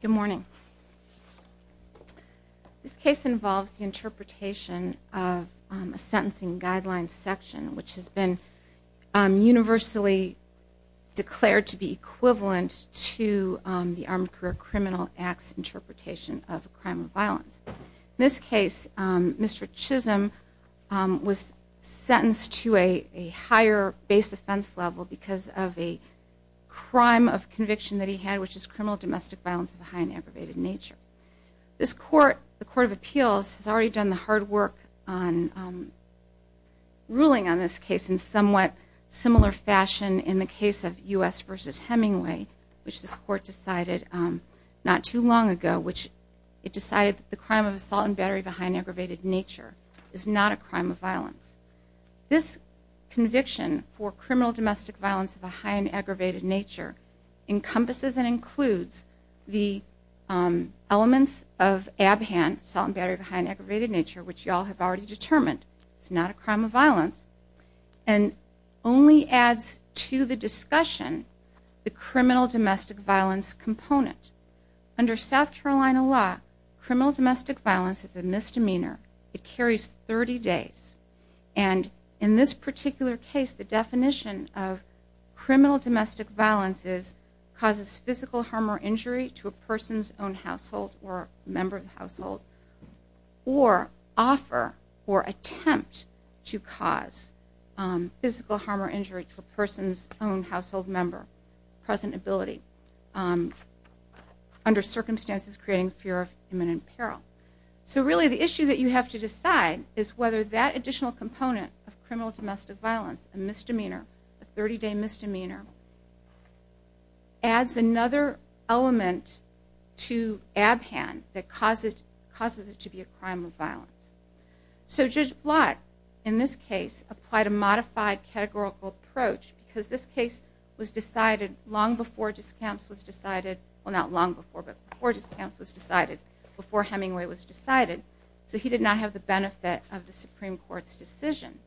Good morning. This case involves the interpretation of a sentencing guidelines section, which has been universally declared to be equivalent to the Armed Career Criminal Act's interpretation of a crime of violence. In this case, Mr. Chisolm was sentenced to a higher base offense level because of a crime of conviction that he had, which is criminal domestic violence of a high and aggravated nature. The Court of Appeals has already done the hard work on ruling on this case in somewhat similar fashion in the case of U.S. v. Hemingway, which this court decided not too long ago. It decided that the crime of assault and battery of a high and aggravated nature is not a crime of violence. This conviction for criminal domestic violence of a high and aggravated nature encompasses and includes the elements of ABHAN, assault and battery of a high and aggravated nature, which you all have already determined is not a crime of violence, and only adds to the discussion the criminal domestic violence component. Under South Carolina law, criminal domestic violence is a misdemeanor. It carries 30 days, and in this particular case, the definition of criminal domestic violence is causes physical harm or injury to a person's own household or a member of the household, or offer or attempt to cause physical harm or injury to a person's own household member, present ability, under circumstances creating fear of imminent peril. So really the issue that you have to decide is whether that additional component of criminal domestic violence, a misdemeanor, a 30-day misdemeanor, adds another element to ABHAN that causes it to be a crime of violence. So Judge Blatt, in this case, applied a modified categorical approach because this case was decided long before discounts was decided, well, not long before, but before discounts was decided, before Hemingway was decided. So he did not have the benefit of the Supreme Court's decision.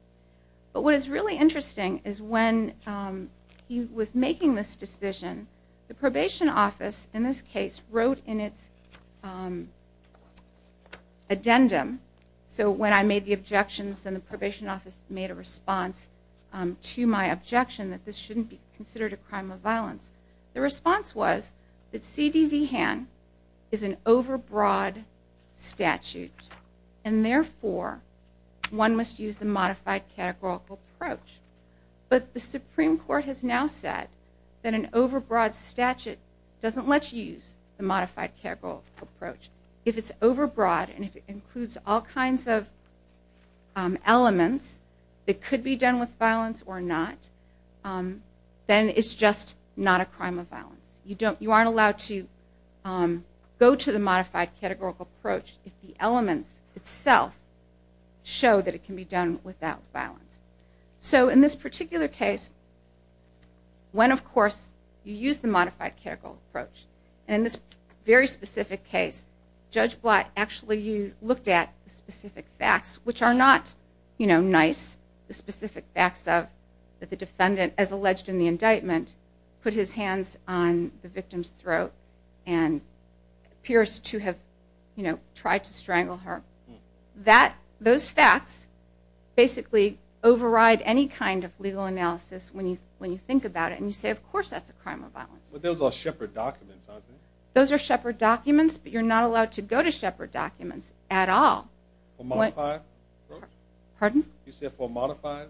But what is really interesting is when he was making this decision, the probation office, in this case, wrote in its addendum, so when I made the objections and the probation office made a response to my objection that this shouldn't be considered a crime of violence, the response was that CDBHAN is an overbroad statute, and therefore one must use the modified categorical approach. But the Supreme Court has now said that an overbroad statute doesn't let you use the modified categorical approach. If it's overbroad and it includes all kinds of elements that could be done with violence or not, then it's just not a crime of violence. You aren't allowed to go to the modified categorical approach if the elements itself show that it can be done without violence. So in this particular case, when, of course, you use the modified categorical approach, and in this very specific case, Judge Blatt actually looked at specific facts, which are not nice, the specific facts that the defendant, as alleged in the indictment, put his hands on the victim's throat and appears to have tried to strangle her. Those facts basically override any kind of legal analysis when you think about it, and you say, of course that's a crime of violence. But those are Shepard documents, aren't they? Those are Shepard documents, but you're not allowed to go to Shepard documents at all. For a modified approach? Pardon? You said for a modified?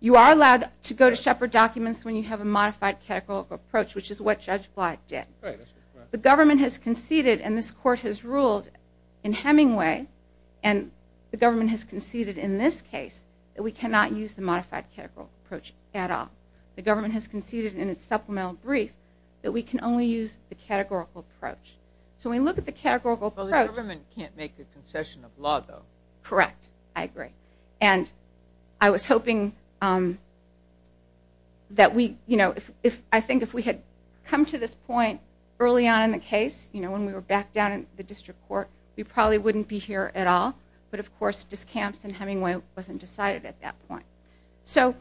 You are allowed to go to Shepard documents when you have a modified categorical approach, which is what Judge Blatt did. The government has conceded, and this court has ruled in Hemingway, and the government has conceded in this case that we cannot use the modified categorical approach at all. The government has conceded in its supplemental brief that we can only use the categorical approach. So when you look at the categorical approach— Correct. I agree. And I was hoping that we, you know, I think if we had come to this point early on in the case, you know, when we were back down in the district court, we probably wouldn't be here at all. But, of course, discounts in Hemingway wasn't decided at that point. So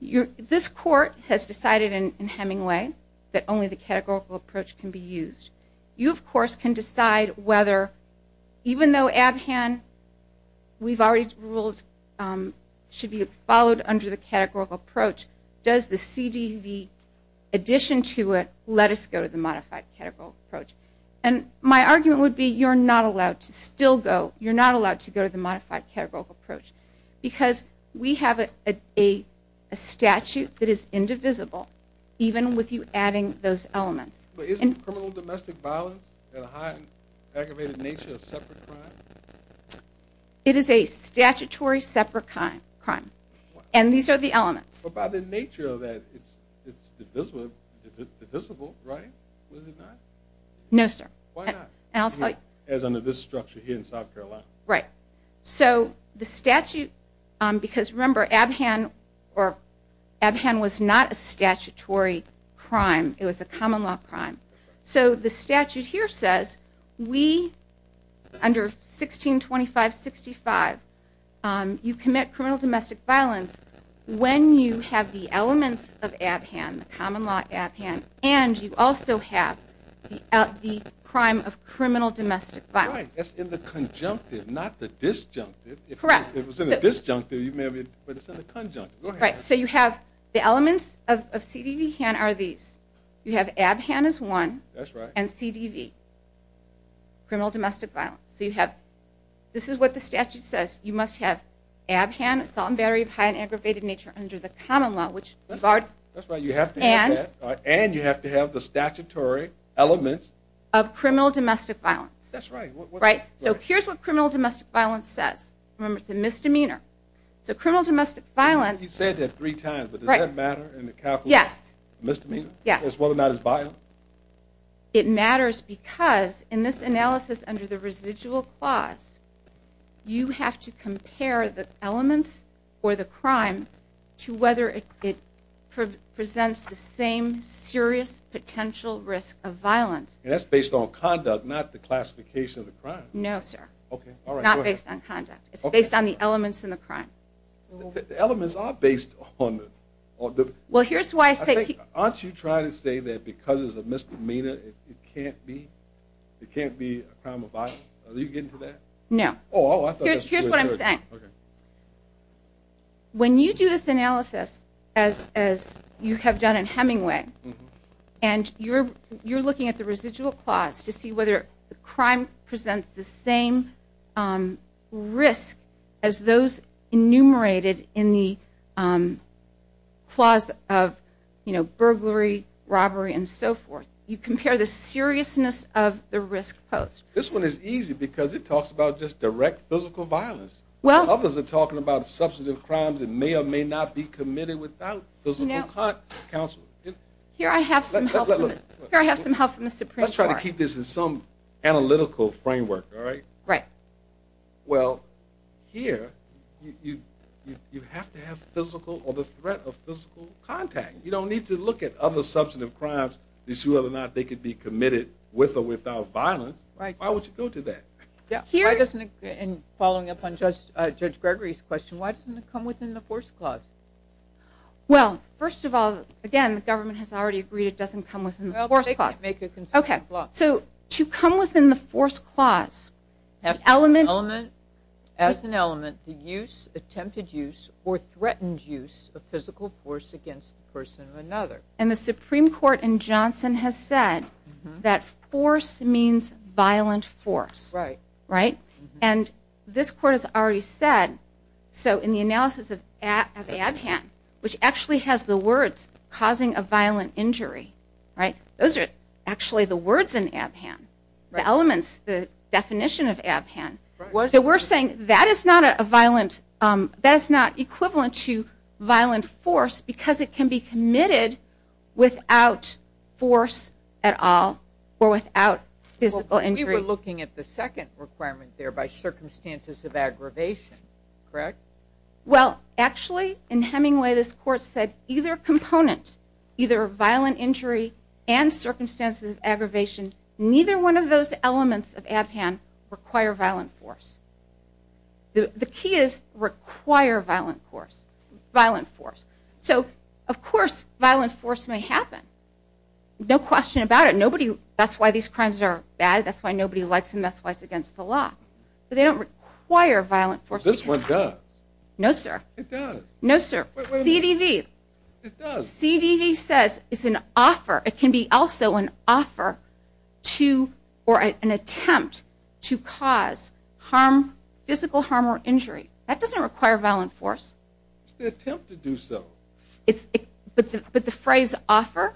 this court has decided in Hemingway that only the categorical approach can be used. You, of course, can decide whether, even though Abhan, we've already ruled, should be followed under the categorical approach, does the CDV addition to it let us go to the modified categorical approach? And my argument would be you're not allowed to still go. You're not allowed to go to the modified categorical approach because we have a statute that is indivisible, even with you adding those elements. But isn't criminal domestic violence at a high aggravated nature a separate crime? It is a statutory separate crime. And these are the elements. But by the nature of that, it's divisible, right? Is it not? No, sir. Why not? And I'll tell you. As under this structure here in South Carolina. Right. So the statute—because remember, Abhan was not a statutory crime. It was a common law crime. So the statute here says we, under 1625-65, you commit criminal domestic violence when you have the elements of Abhan, the common law Abhan, and you also have the crime of criminal domestic violence. Right. That's in the conjunctive, not the disjunctive. Correct. If it was in the disjunctive, you may have—but it's in the conjunctive. So you have the elements of C.D.V., Han are these. You have Abhan is one. That's right. And C.D.V., criminal domestic violence. So you have—this is what the statute says. You must have Abhan, assault and battery of high and aggravated nature, under the common law, which— That's right. You have to have that. And? And you have to have the statutory elements. Of criminal domestic violence. That's right. So here's what criminal domestic violence says. Remember, it's a misdemeanor. So criminal domestic violence— You said that three times, but does that matter in the capital— Yes. Misdemeanor? Yes. As well or not as violent? It matters because, in this analysis under the residual clause, you have to compare the elements or the crime to whether it presents the same serious potential risk of violence. And that's based on conduct, not the classification of the crime. No, sir. Okay. All right. Go ahead. It's not based on conduct. It's based on the elements in the crime. The elements are based on the— Well, here's why I say— Aren't you trying to say that because it's a misdemeanor, it can't be a crime of violence? Are you getting to that? No. Oh, I thought— Here's what I'm saying. Okay. When you do this analysis, as you have done in Hemingway, and you're looking at the residual clause to see whether the crime presents the same risk as those enumerated in the clause of burglary, robbery, and so forth, you compare the seriousness of the risk posed. This one is easy because it talks about just direct physical violence. Well— Others are talking about substantive crimes that may or may not be committed without physical counsel. Here I have some help from the Supreme Court. Let's try to keep this in some analytical framework, all right? Right. Well, here you have to have physical or the threat of physical contact. You don't need to look at other substantive crimes to see whether or not they could be committed with or without violence. Right. Why would you go to that? Here— And following up on Judge Gregory's question, why doesn't it come within the force clause? Well, first of all, again, the government has already agreed it doesn't come within the force clause. Well, make a conservative clause. Okay. So to come within the force clause, the element— As an element, the use, attempted use, or threatened use of physical force against the person of another. And the Supreme Court in Johnson has said that force means violent force. Right. Right? And this court has already said, so in the analysis of Abhan, which actually has the words causing a violent injury, right? Those are actually the words in Abhan, the elements, the definition of Abhan. Right. So we're saying that is not a violent—that is not equivalent to violent force because it can be committed without force at all or without physical injury. You're looking at the second requirement there, by circumstances of aggravation, correct? Well, actually, in Hemingway, this court said either component, either violent injury and circumstances of aggravation, neither one of those elements of Abhan require violent force. The key is require violent force. So, of course, violent force may happen. No question about it. That's why these crimes are bad. That's why nobody likes them. That's why it's against the law. But they don't require violent force. This one does. No, sir. It does. No, sir. C.D.V. It does. C.D.V. says it's an offer. It can be also an offer to or an attempt to cause physical harm or injury. That doesn't require violent force. It's the attempt to do so. But the phrase offer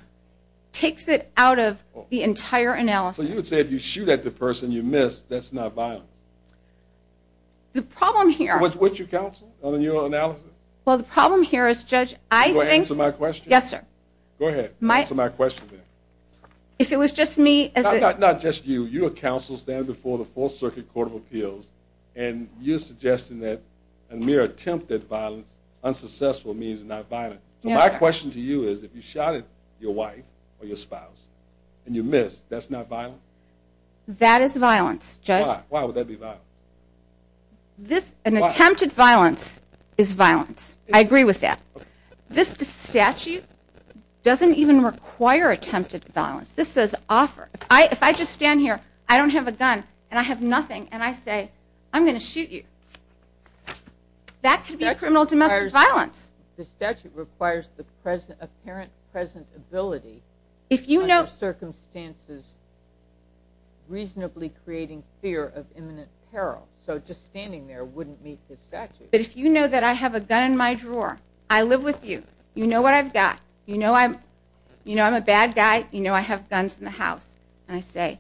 takes it out of the entire analysis. So you would say if you shoot at the person you miss, that's not violence? The problem here – Would you counsel on your analysis? Well, the problem here is, Judge, I think – Go ahead and answer my question. Yes, sir. Go ahead. Answer my question. If it was just me – Not just you. You're a counsel standing before the Fourth Circuit Court of Appeals, and you're suggesting that a mere attempt at violence, unsuccessful means not violent. So my question to you is, if you shot at your wife or your spouse and you missed, that's not violence? That is violence, Judge. Why? Why would that be violence? An attempted violence is violence. I agree with that. This statute doesn't even require attempted violence. This says offer. If I just stand here, I don't have a gun, and I have nothing, and I say, I'm going to shoot you, that could be a criminal domestic violence. The statute requires the apparent present ability under circumstances reasonably creating fear of imminent peril. So just standing there wouldn't meet the statute. But if you know that I have a gun in my drawer, I live with you, you know what I've got, you know I'm a bad guy, you know I have guns in the house, and I say,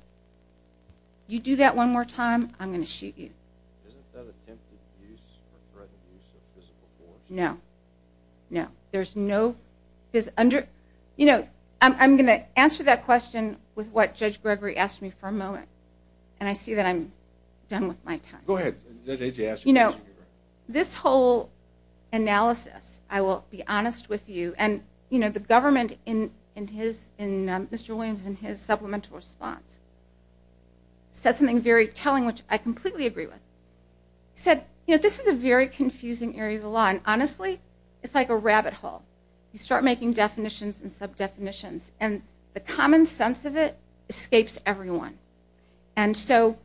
you do that one more time, I'm going to shoot you. Isn't that attempted use or threatened use of physical force? No. No. There's no physical force. You know, I'm going to answer that question with what Judge Gregory asked me for a moment, and I see that I'm done with my time. Go ahead. You know, this whole analysis, I will be honest with you, and, you know, Mr. Williams in his supplemental response said something very telling, which I completely agree with. He said, you know, this is a very confusing area of the law, and honestly, it's like a rabbit hole. You start making definitions and sub-definitions, and the common sense of it escapes everyone. And so,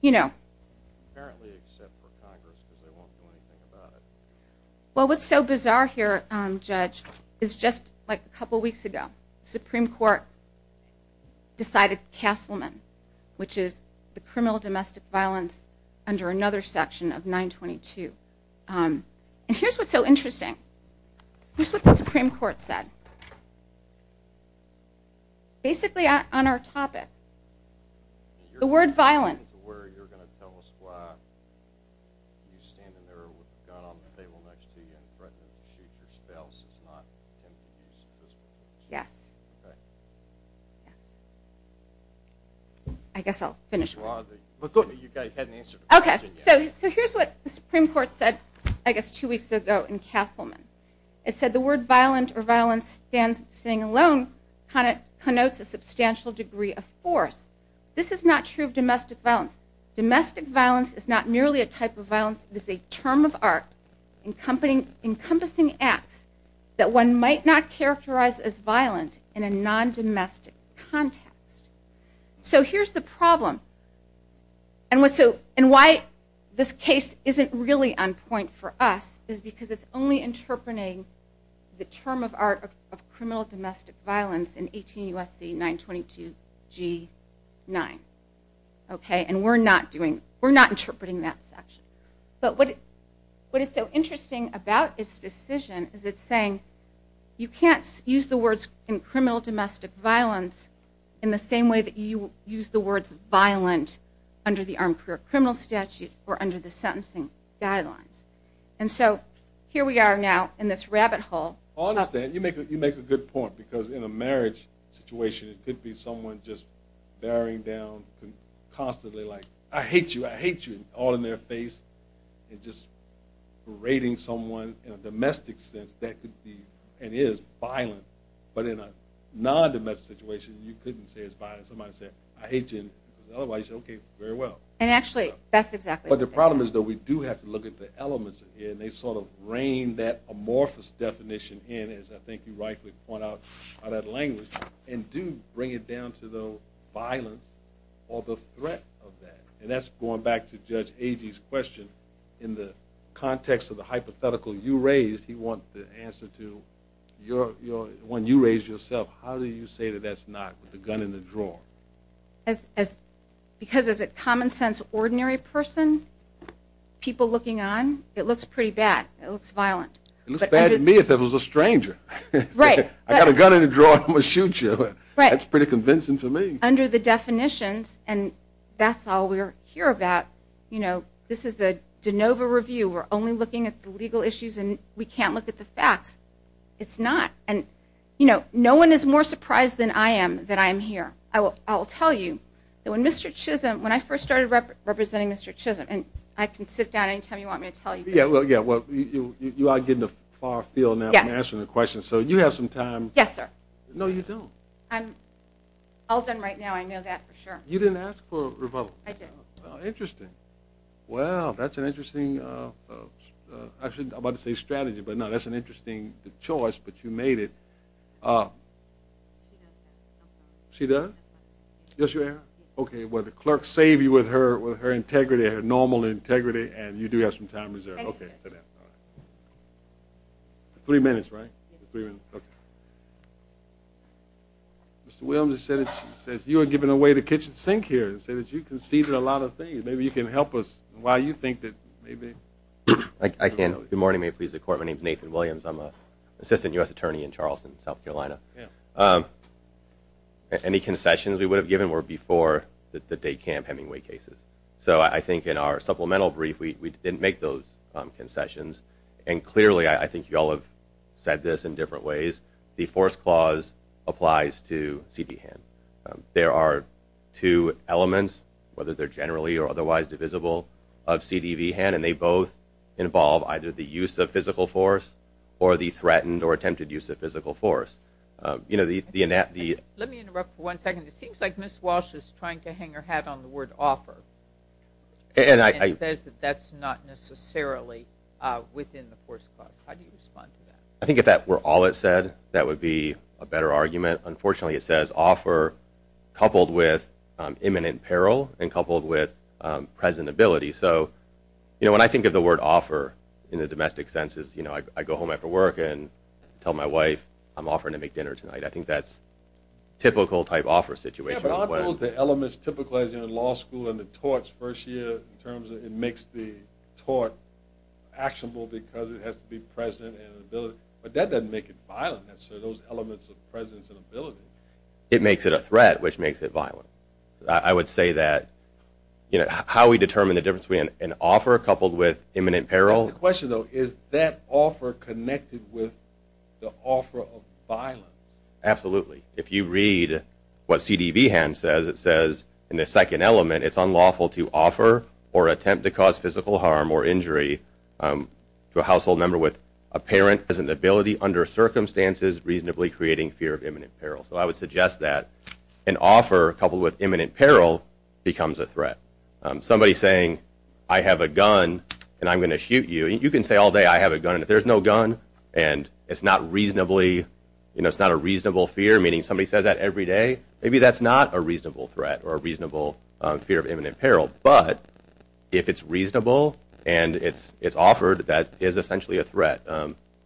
you know. Apparently except for Congress because they won't do anything about it. Well, what's so bizarre here, Judge, is just like a couple weeks ago, the Supreme Court decided Castleman, which is the criminal domestic violence under another section of 922. And here's what's so interesting. Here's what the Supreme Court said. Basically on our topic, the word violent. In terms of where you're going to tell us why you're standing there with a gun on the table next to you and threatening to shoot your spouse is not in the use of this provision. Yes. I guess I'll finish. But you hadn't answered the question yet. Okay. So here's what the Supreme Court said, I guess, two weeks ago in Castleman. It said the word violent or violence standing alone connotes a substantial degree of force. This is not true of domestic violence. Domestic violence is not merely a type of violence. It is a term of art encompassing acts that one might not characterize as violent in a non-domestic context. So here's the problem. And why this case isn't really on point for us is because it's only interpreting the term of art of criminal domestic violence in 18 U.S.C. 922 G9. Okay. And we're not interpreting that section. But what is so interesting about this decision is it's saying you can't use the words in criminal domestic violence in the same way that you use the words violent under the Armed Career Criminal Statute or under the sentencing guidelines. And so here we are now in this rabbit hole. I understand. You make a good point because in a marriage situation, it could be someone just bearing down constantly like, I hate you, I hate you, all in their face and just berating someone. In a domestic sense, that could be and is violent. But in a non-domestic situation, you couldn't say it's violent. Somebody said, I hate you. Otherwise, you say, okay, very well. And actually, that's exactly what they're saying. But the problem is, though, we do have to look at the elements. And they sort of reign that amorphous definition in, as I think you rightly point out, out of that language and do bring it down to the violence or the threat of that. And that's going back to Judge Agee's question. In the context of the hypothetical you raised, he wants the answer to when you raised yourself, how do you say that that's not with the gun in the drawer? Because as a common-sense ordinary person, people looking on, it looks pretty bad. It looks violent. It looks bad to me if it was a stranger. Right. I got a gun in the drawer. I'm going to shoot you. That's pretty convincing to me. Under the definitions, and that's all we're here about, you know, this is the de novo review. We're only looking at the legal issues, and we can't look at the facts. It's not. And, you know, no one is more surprised than I am that I'm here. I'll tell you that when Mr. Chisholm, when I first started representing Mr. Chisholm, and I can sit down any time you want me to tell you this. Yeah, well, you are getting the far field now in answering the question. So you have some time. Yes, sir. No, you don't. I'm all done right now. I know that for sure. You didn't ask for a rebuttal. I didn't. Well, interesting. Well, that's an interesting, I was about to say strategy, but no, that's an interesting choice, but you made it. She does? Yes, your Honor. Okay, well, the clerk saved you with her integrity, her normal integrity, and you do have some time reserved. Thank you, sir. Okay, sit down. Three minutes, right? Three minutes, okay. Mr. Williams says you are giving away the kitchen sink here. He says you conceded a lot of things. Maybe you can help us why you think that maybe. I can. Good morning, may it please the Court. My name is Nathan Williams. I'm an assistant U.S. attorney in Charleston, South Carolina. Any concessions we would have given were before the day camp Hemingway cases. So I think in our supplemental brief we didn't make those concessions, and clearly I think you all have said this in different ways. The force clause applies to CD hand. There are two elements, whether they're generally or otherwise divisible, of CDV hand, and they both involve either the use of physical force or the threatened or attempted use of physical force. Let me interrupt for one second. It seems like Ms. Walsh is trying to hang her hat on the word offer. And it says that that's not necessarily within the force clause. How do you respond to that? I think if that were all it said, that would be a better argument. Unfortunately, it says offer coupled with imminent peril and coupled with presentability. So, you know, when I think of the word offer in the domestic sense is, you know, I go home after work and tell my wife I'm offering to make dinner tonight. I think that's a typical type offer situation. But aren't those the elements typical, as in law school and the torts first year, in terms of it makes the tort actionable because it has to be present and in ability? But that doesn't make it violent, those elements of presence and ability. It makes it a threat, which makes it violent. I would say that, you know, how we determine the difference between an offer coupled with imminent peril. The question, though, is that offer connected with the offer of violence? Absolutely. If you read what CDV hand says, it says in the second element it's unlawful to offer or attempt to cause physical harm or injury to a household member with apparent presentability under circumstances reasonably creating fear of imminent peril. So I would suggest that an offer coupled with imminent peril becomes a threat. Somebody saying I have a gun and I'm going to shoot you, you can say all day I have a gun, and if there's no gun and it's not reasonably, you know, it's not a reasonable fear, meaning somebody says that every day, maybe that's not a reasonable threat or a reasonable fear of imminent peril. But if it's reasonable and it's offered, that is essentially a threat.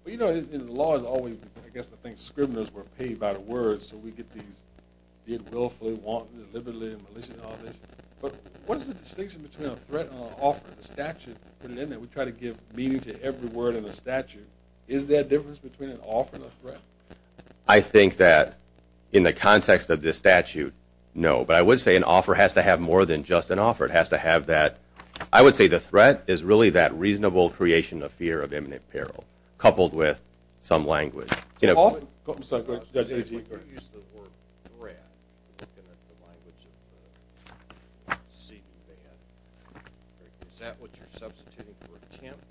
You know, in law it's always, I guess, the thing, scriveners were paid by the word, so we get these did willfully, wantedly, deliberately, maliciously, all this. But what is the distinction between a threat and an offer? We try to give meaning to every word in the statute. Is there a difference between an offer and a threat? I think that in the context of this statute, no. But I would say an offer has to have more than just an offer. It has to have that, I would say the threat is really that reasonable creation of fear of imminent peril coupled with some language. I'm sorry, go ahead. When you use the word threat, looking at the language of the CD ban, is that what you're substituting for attempt?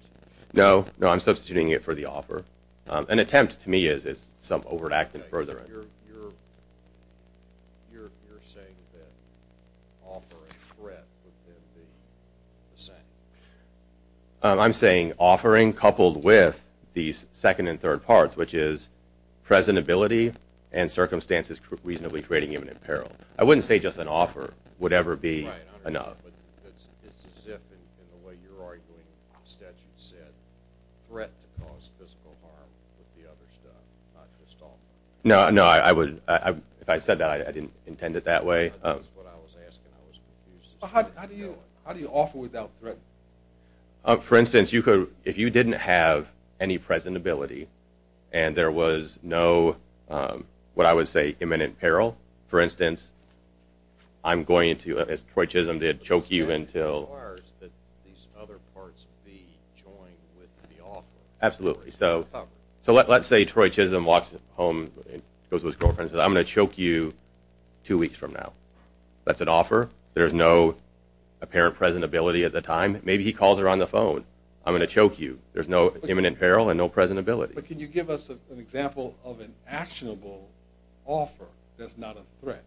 No, no, I'm substituting it for the offer. An attempt to me is some overt act of furthering. So you're saying that offer and threat would then be the same? I'm saying offering coupled with these second and third parts, which is presentability and circumstances reasonably creating imminent peril. I wouldn't say just an offer would ever be enough. It's as if, in the way you're arguing the statute said, threat to cause physical harm with the other stuff, not just offer. No, no, if I said that, I didn't intend it that way. That's what I was asking, I was confused. How do you offer without threat? For instance, if you didn't have any presentability and there was no, what I would say, imminent peril, for instance, I'm going to, as Troy Chisholm did, choke you until… The statute requires that these other parts be joined with the offer. Absolutely. So let's say Troy Chisholm walks home and goes to his girlfriend and says, I'm going to choke you two weeks from now. That's an offer. There's no apparent presentability at the time. Maybe he calls her on the phone. I'm going to choke you. There's no imminent peril and no presentability. But can you give us an example of an actionable offer that's not a threat?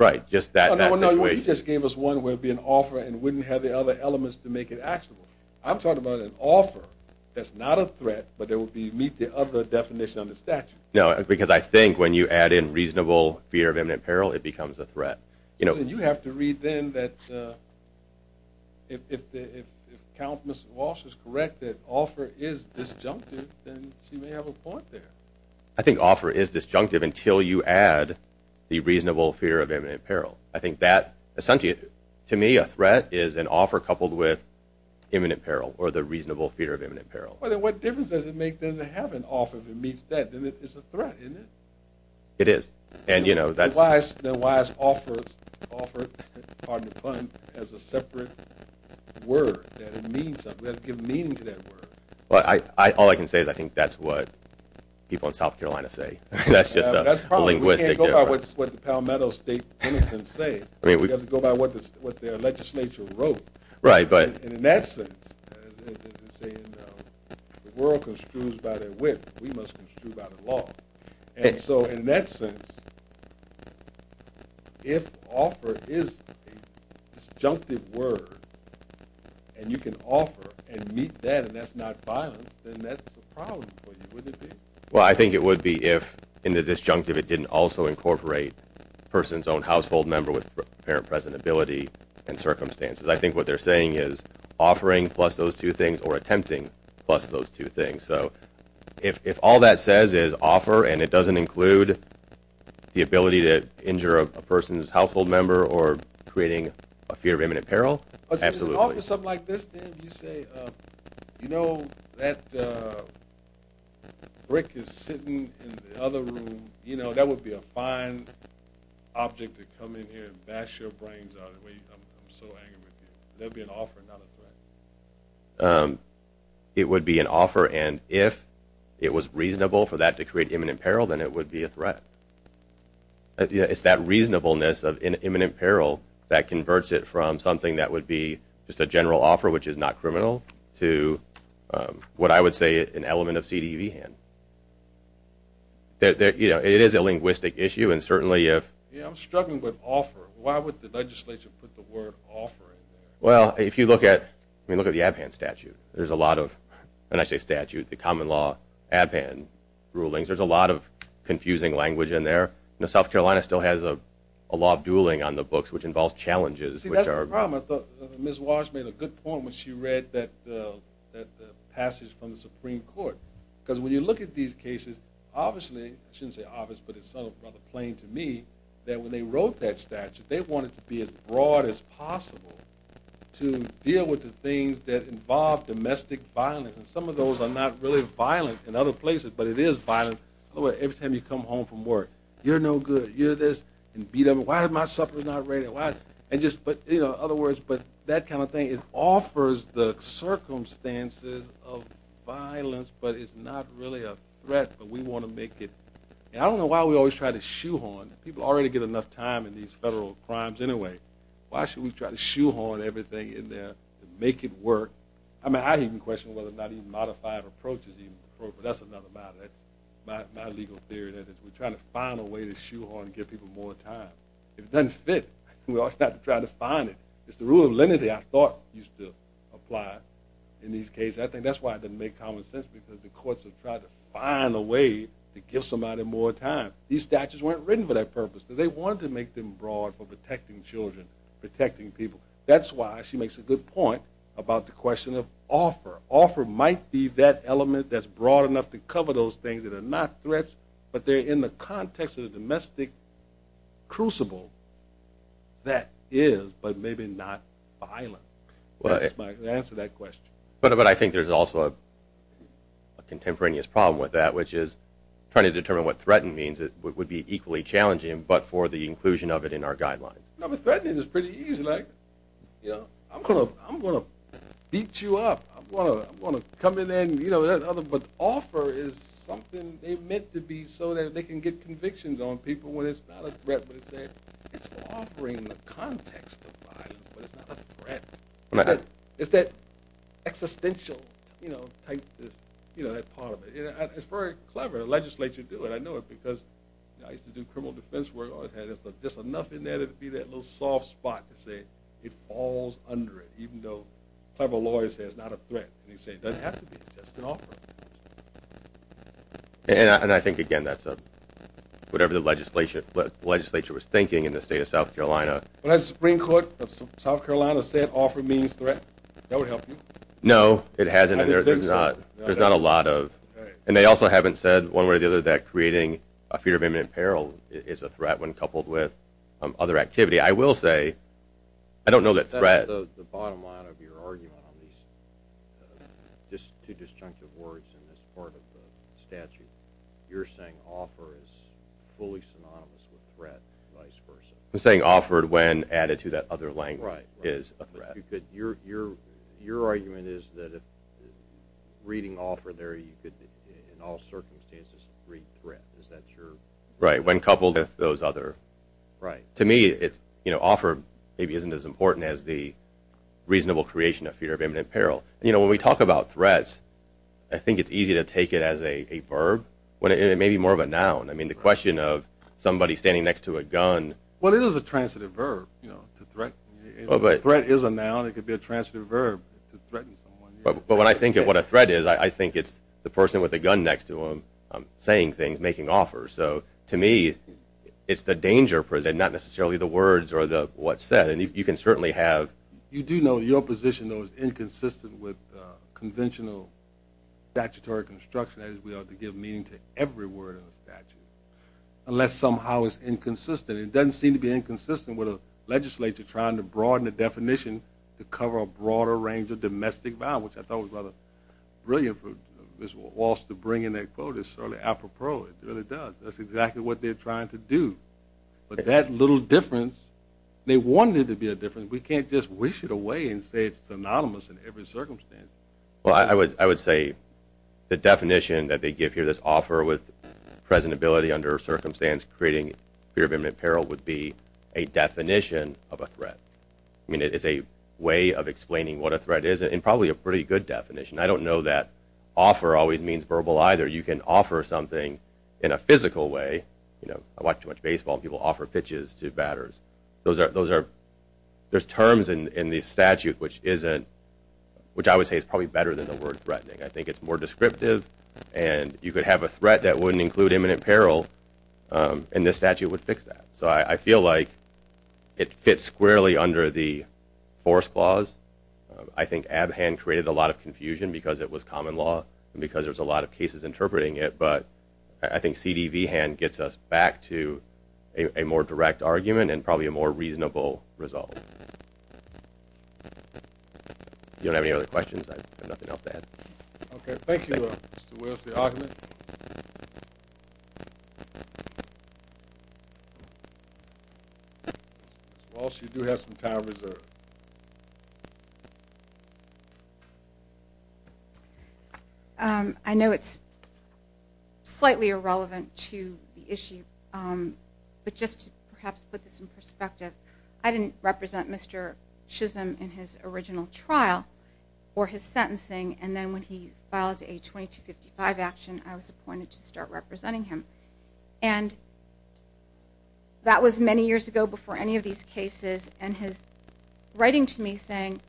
Right, just that situation. No, no, you just gave us one where it would be an offer and wouldn't have the other elements to make it actionable. I'm talking about an offer that's not a threat but it would meet the other definition of the statute. No, because I think when you add in reasonable fear of imminent peril, it becomes a threat. You have to read then that if Count Walsh is correct that offer is disjunctive, then she may have a point there. I think offer is disjunctive until you add the reasonable fear of imminent peril. I think that, to me, a threat is an offer coupled with imminent peril or the reasonable fear of imminent peril. What difference does it make then to have an offer that meets that? It's a threat, isn't it? It is. Then why is offer, pardon the pun, as a separate word? It means something. We have to give meaning to that word. All I can say is I think that's what people in South Carolina say. That's just a linguistic difference. We can't go by what the Palmetto State penitents say. We have to go by what their legislature wrote. In that sense, the world construes by their whip. We must construe by the law. So in that sense, if offer is a disjunctive word and you can offer and meet that and that's not violence, then that's a problem for you, wouldn't it be? Well, I think it would be if in the disjunctive it didn't also incorporate a person's own household member with apparent presentability and circumstances. I think what they're saying is offering plus those two things or attempting plus those two things. So if all that says is offer and it doesn't include the ability to injure a person's household member or creating a fear of imminent peril, absolutely. If you can offer something like this, Dan, if you say, you know, that brick is sitting in the other room, that would be a fine object to come in here and bash your brains out. I'm so angry with you. It would be an offer, not a threat. It would be an offer, and if it was reasonable for that to create imminent peril, then it would be a threat. It's that reasonableness of imminent peril that converts it from something that would be just a general offer, which is not criminal, to what I would say is an element of CDE hand. It is a linguistic issue, and certainly if... Yeah, I'm struggling with offer. Why would the legislature put the word offer in there? Well, if you look at the Abhan Statute, there's a lot of, and I say statute, the common law, Abhan rulings, there's a lot of confusing language in there. South Carolina still has a law of dueling on the books, which involves challenges, which are... See, that's the problem. I thought Ms. Walsh made a good point when she read that passage from the Supreme Court, because when you look at these cases, obviously, I shouldn't say obviously, but it's sort of rather plain to me, that when they wrote that statute, they wanted to be as broad as possible to deal with the things that involve domestic violence, and some of those are not really violent in other places, but it is violent. Every time you come home from work, you're no good. You're this, and beat up. Why is my supper not ready? In other words, that kind of thing. It offers the circumstances of violence, but it's not really a threat, but we want to make it... I don't know why we always try to shoehorn. People already get enough time in these federal crimes anyway. Why should we try to shoehorn everything in there to make it work? I mean, I even question whether or not even modified approach is even appropriate. That's another matter. That's my legal theory, that we're trying to find a way to shoehorn and give people more time. If it doesn't fit, we always have to try to find it. It's the rule of lenity I thought used to apply in these cases. I think that's why it doesn't make common sense, because the courts have tried to find a way to give somebody more time. These statutes weren't written for that purpose. They wanted to make them broad for protecting children, protecting people. That's why she makes a good point about the question of offer. Offer might be that element that's broad enough to cover those things that are not threats, but they're in the context of the domestic crucible that is, but maybe not, violent. That's my answer to that question. But I think there's also a contemporaneous problem with that, which is trying to determine what threatened means. It would be equally challenging, but for the inclusion of it in our guidelines. Threatening is pretty easy. I'm going to beat you up. I'm going to come in there and, you know, but offer is something they meant to be so that they can get convictions on people when it's not a threat, but it's offering the context of violence, but it's not a threat. It's that existential, you know, part of it. It's very clever. The legislature do it. I know it because I used to do criminal defense work. It had just enough in there to be that little soft spot to say it falls under it, even though clever lawyers say it's not a threat. They say it doesn't have to be. It's just an offer. And I think, again, that's whatever the legislature was thinking in the state of South Carolina. Well, has the Supreme Court of South Carolina said offer means threat? That would help you. No, it hasn't. There's not a lot of, and they also haven't said one way or the other that creating a fear of imminent peril is a threat when coupled with other activity. I will say I don't know that threat. That's the bottom line of your argument on these two disjunctive words in this part of the statute. You're saying offer is fully synonymous with threat and vice versa. I'm saying offered when added to that other language is a threat. Your argument is that if reading offer there, you could in all circumstances read threat. Is that true? Right, when coupled with those other. Right. To me, offer maybe isn't as important as the reasonable creation of fear of imminent peril. When we talk about threats, I think it's easy to take it as a verb, maybe more of a noun. I mean, the question of somebody standing next to a gun. Well, it is a transitive verb, you know, to threat. Threat is a noun. It could be a transitive verb to threaten someone. But when I think of what a threat is, I think it's the person with a gun next to them saying things, making offers. So to me, it's the danger present, not necessarily the words or what's said. And you can certainly have. You do know your position, though, is inconsistent with conventional statutory construction, that is we ought to give meaning to every word in the statute, unless somehow it's inconsistent. It doesn't seem to be inconsistent with a legislature trying to broaden the definition to cover a broader range of domestic violence. I thought it was rather brilliant for Mr. Walsh to bring in that quote. It's certainly apropos. It really does. That's exactly what they're trying to do. But that little difference, they wanted it to be a difference. We can't just wish it away and say it's synonymous in every circumstance. Well, I would say the definition that they give here, this offer with presentability under circumstance creating fear of imminent peril, would be a definition of a threat. I mean, it's a way of explaining what a threat is and probably a pretty good definition. I don't know that offer always means verbal either. You can offer something in a physical way. I watch too much baseball, and people offer pitches to batters. There's terms in the statute which I would say is probably better than the word threatening. I think it's more descriptive, and you could have a threat that wouldn't include imminent peril, and this statute would fix that. So I feel like it fits squarely under the force clause. I think Abhan created a lot of confusion because it was common law and because there's a lot of cases interpreting it, but I think C.D.V. hand gets us back to a more direct argument and probably a more reasonable result. If you don't have any other questions, I have nothing else to add. Okay. Thank you, Mr. Willis, for your argument. Ms. Walsh, you do have some time reserved. Thank you. I know it's slightly irrelevant to the issue, but just to perhaps put this in perspective, I didn't represent Mr. Chisholm in his original trial or his sentencing, and then when he filed a 2255 action, I was appointed to start representing him. And that was many years ago before any of these cases, and his writing to me saying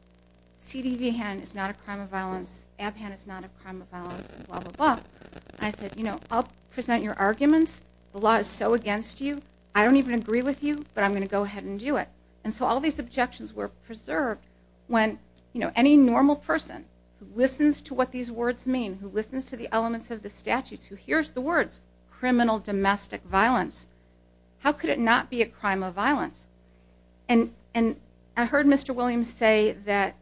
C.D.V. hand is not a crime of violence, Abhan is not a crime of violence, blah, blah, blah. I said, you know, I'll present your arguments. The law is so against you, I don't even agree with you, but I'm going to go ahead and do it. And so all these objections were preserved when, you know, any normal person who listens to what these words mean, who listens to the elements of the statutes, who hears the words criminal domestic violence, how could it not be a crime of violence? And I heard Mr. Williams say that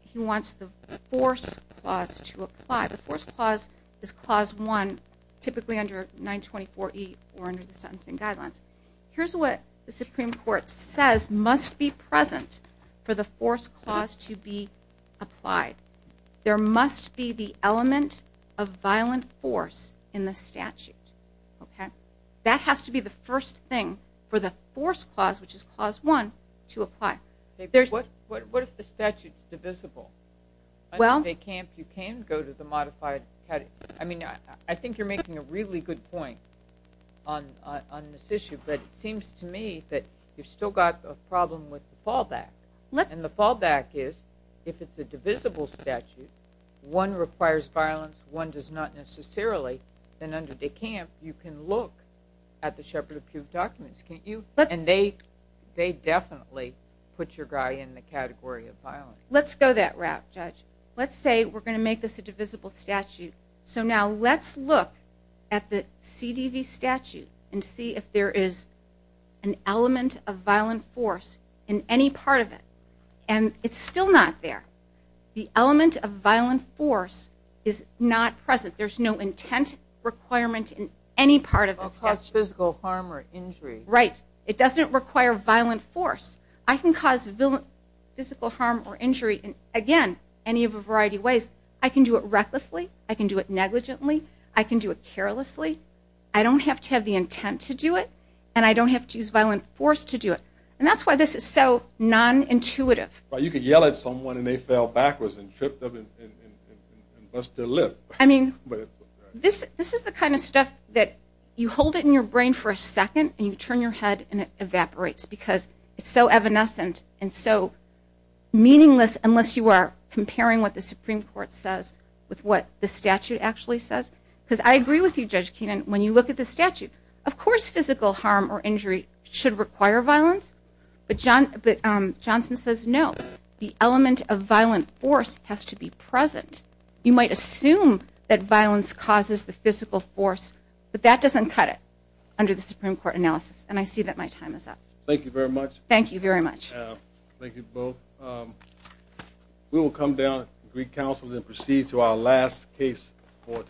he wants the force clause to apply. The force clause is clause one, typically under 924E or under the sentencing guidelines. Here's what the Supreme Court says must be present for the force clause to be applied. There must be the element of violent force in the statute. That has to be the first thing for the force clause, which is clause one, to apply. What if the statute is divisible? You can go to the modified category. I mean, I think you're making a really good point on this issue, but it seems to me that you've still got a problem with the fallback. And the fallback is, if it's a divisible statute, one requires violence, one does not necessarily, then under De Camp, you can look at the Shepherd of Puke documents, can't you? And they definitely put your guy in the category of violence. Let's go that route, Judge. Let's say we're going to make this a divisible statute. So now let's look at the CDV statute and see if there is an element of violent force in any part of it. And it's still not there. The element of violent force is not present. There's no intent requirement in any part of the statute. It doesn't cause physical harm or injury. Right. It doesn't require violent force. I can cause physical harm or injury in, again, any of a variety of ways. I can do it recklessly. I can do it negligently. I can do it carelessly. I don't have to have the intent to do it, and I don't have to use violent force to do it. And that's why this is so nonintuitive. Well, you could yell at someone and they fell backwards and tripped up and bust their lip. I mean, this is the kind of stuff that you hold it in your brain for a second and you turn your head and it evaporates because it's so evanescent and so meaningless unless you are comparing what the Supreme Court says with what the statute actually says. Because I agree with you, Judge Keenan, when you look at the statute. Of course physical harm or injury should require violence, but Johnson says no. The element of violent force has to be present. You might assume that violence causes the physical force, but that doesn't cut it under the Supreme Court analysis, and I see that my time is up. Thank you very much. Thank you very much. Thank you both. We will come down to the Greek Council and proceed to our last case for today.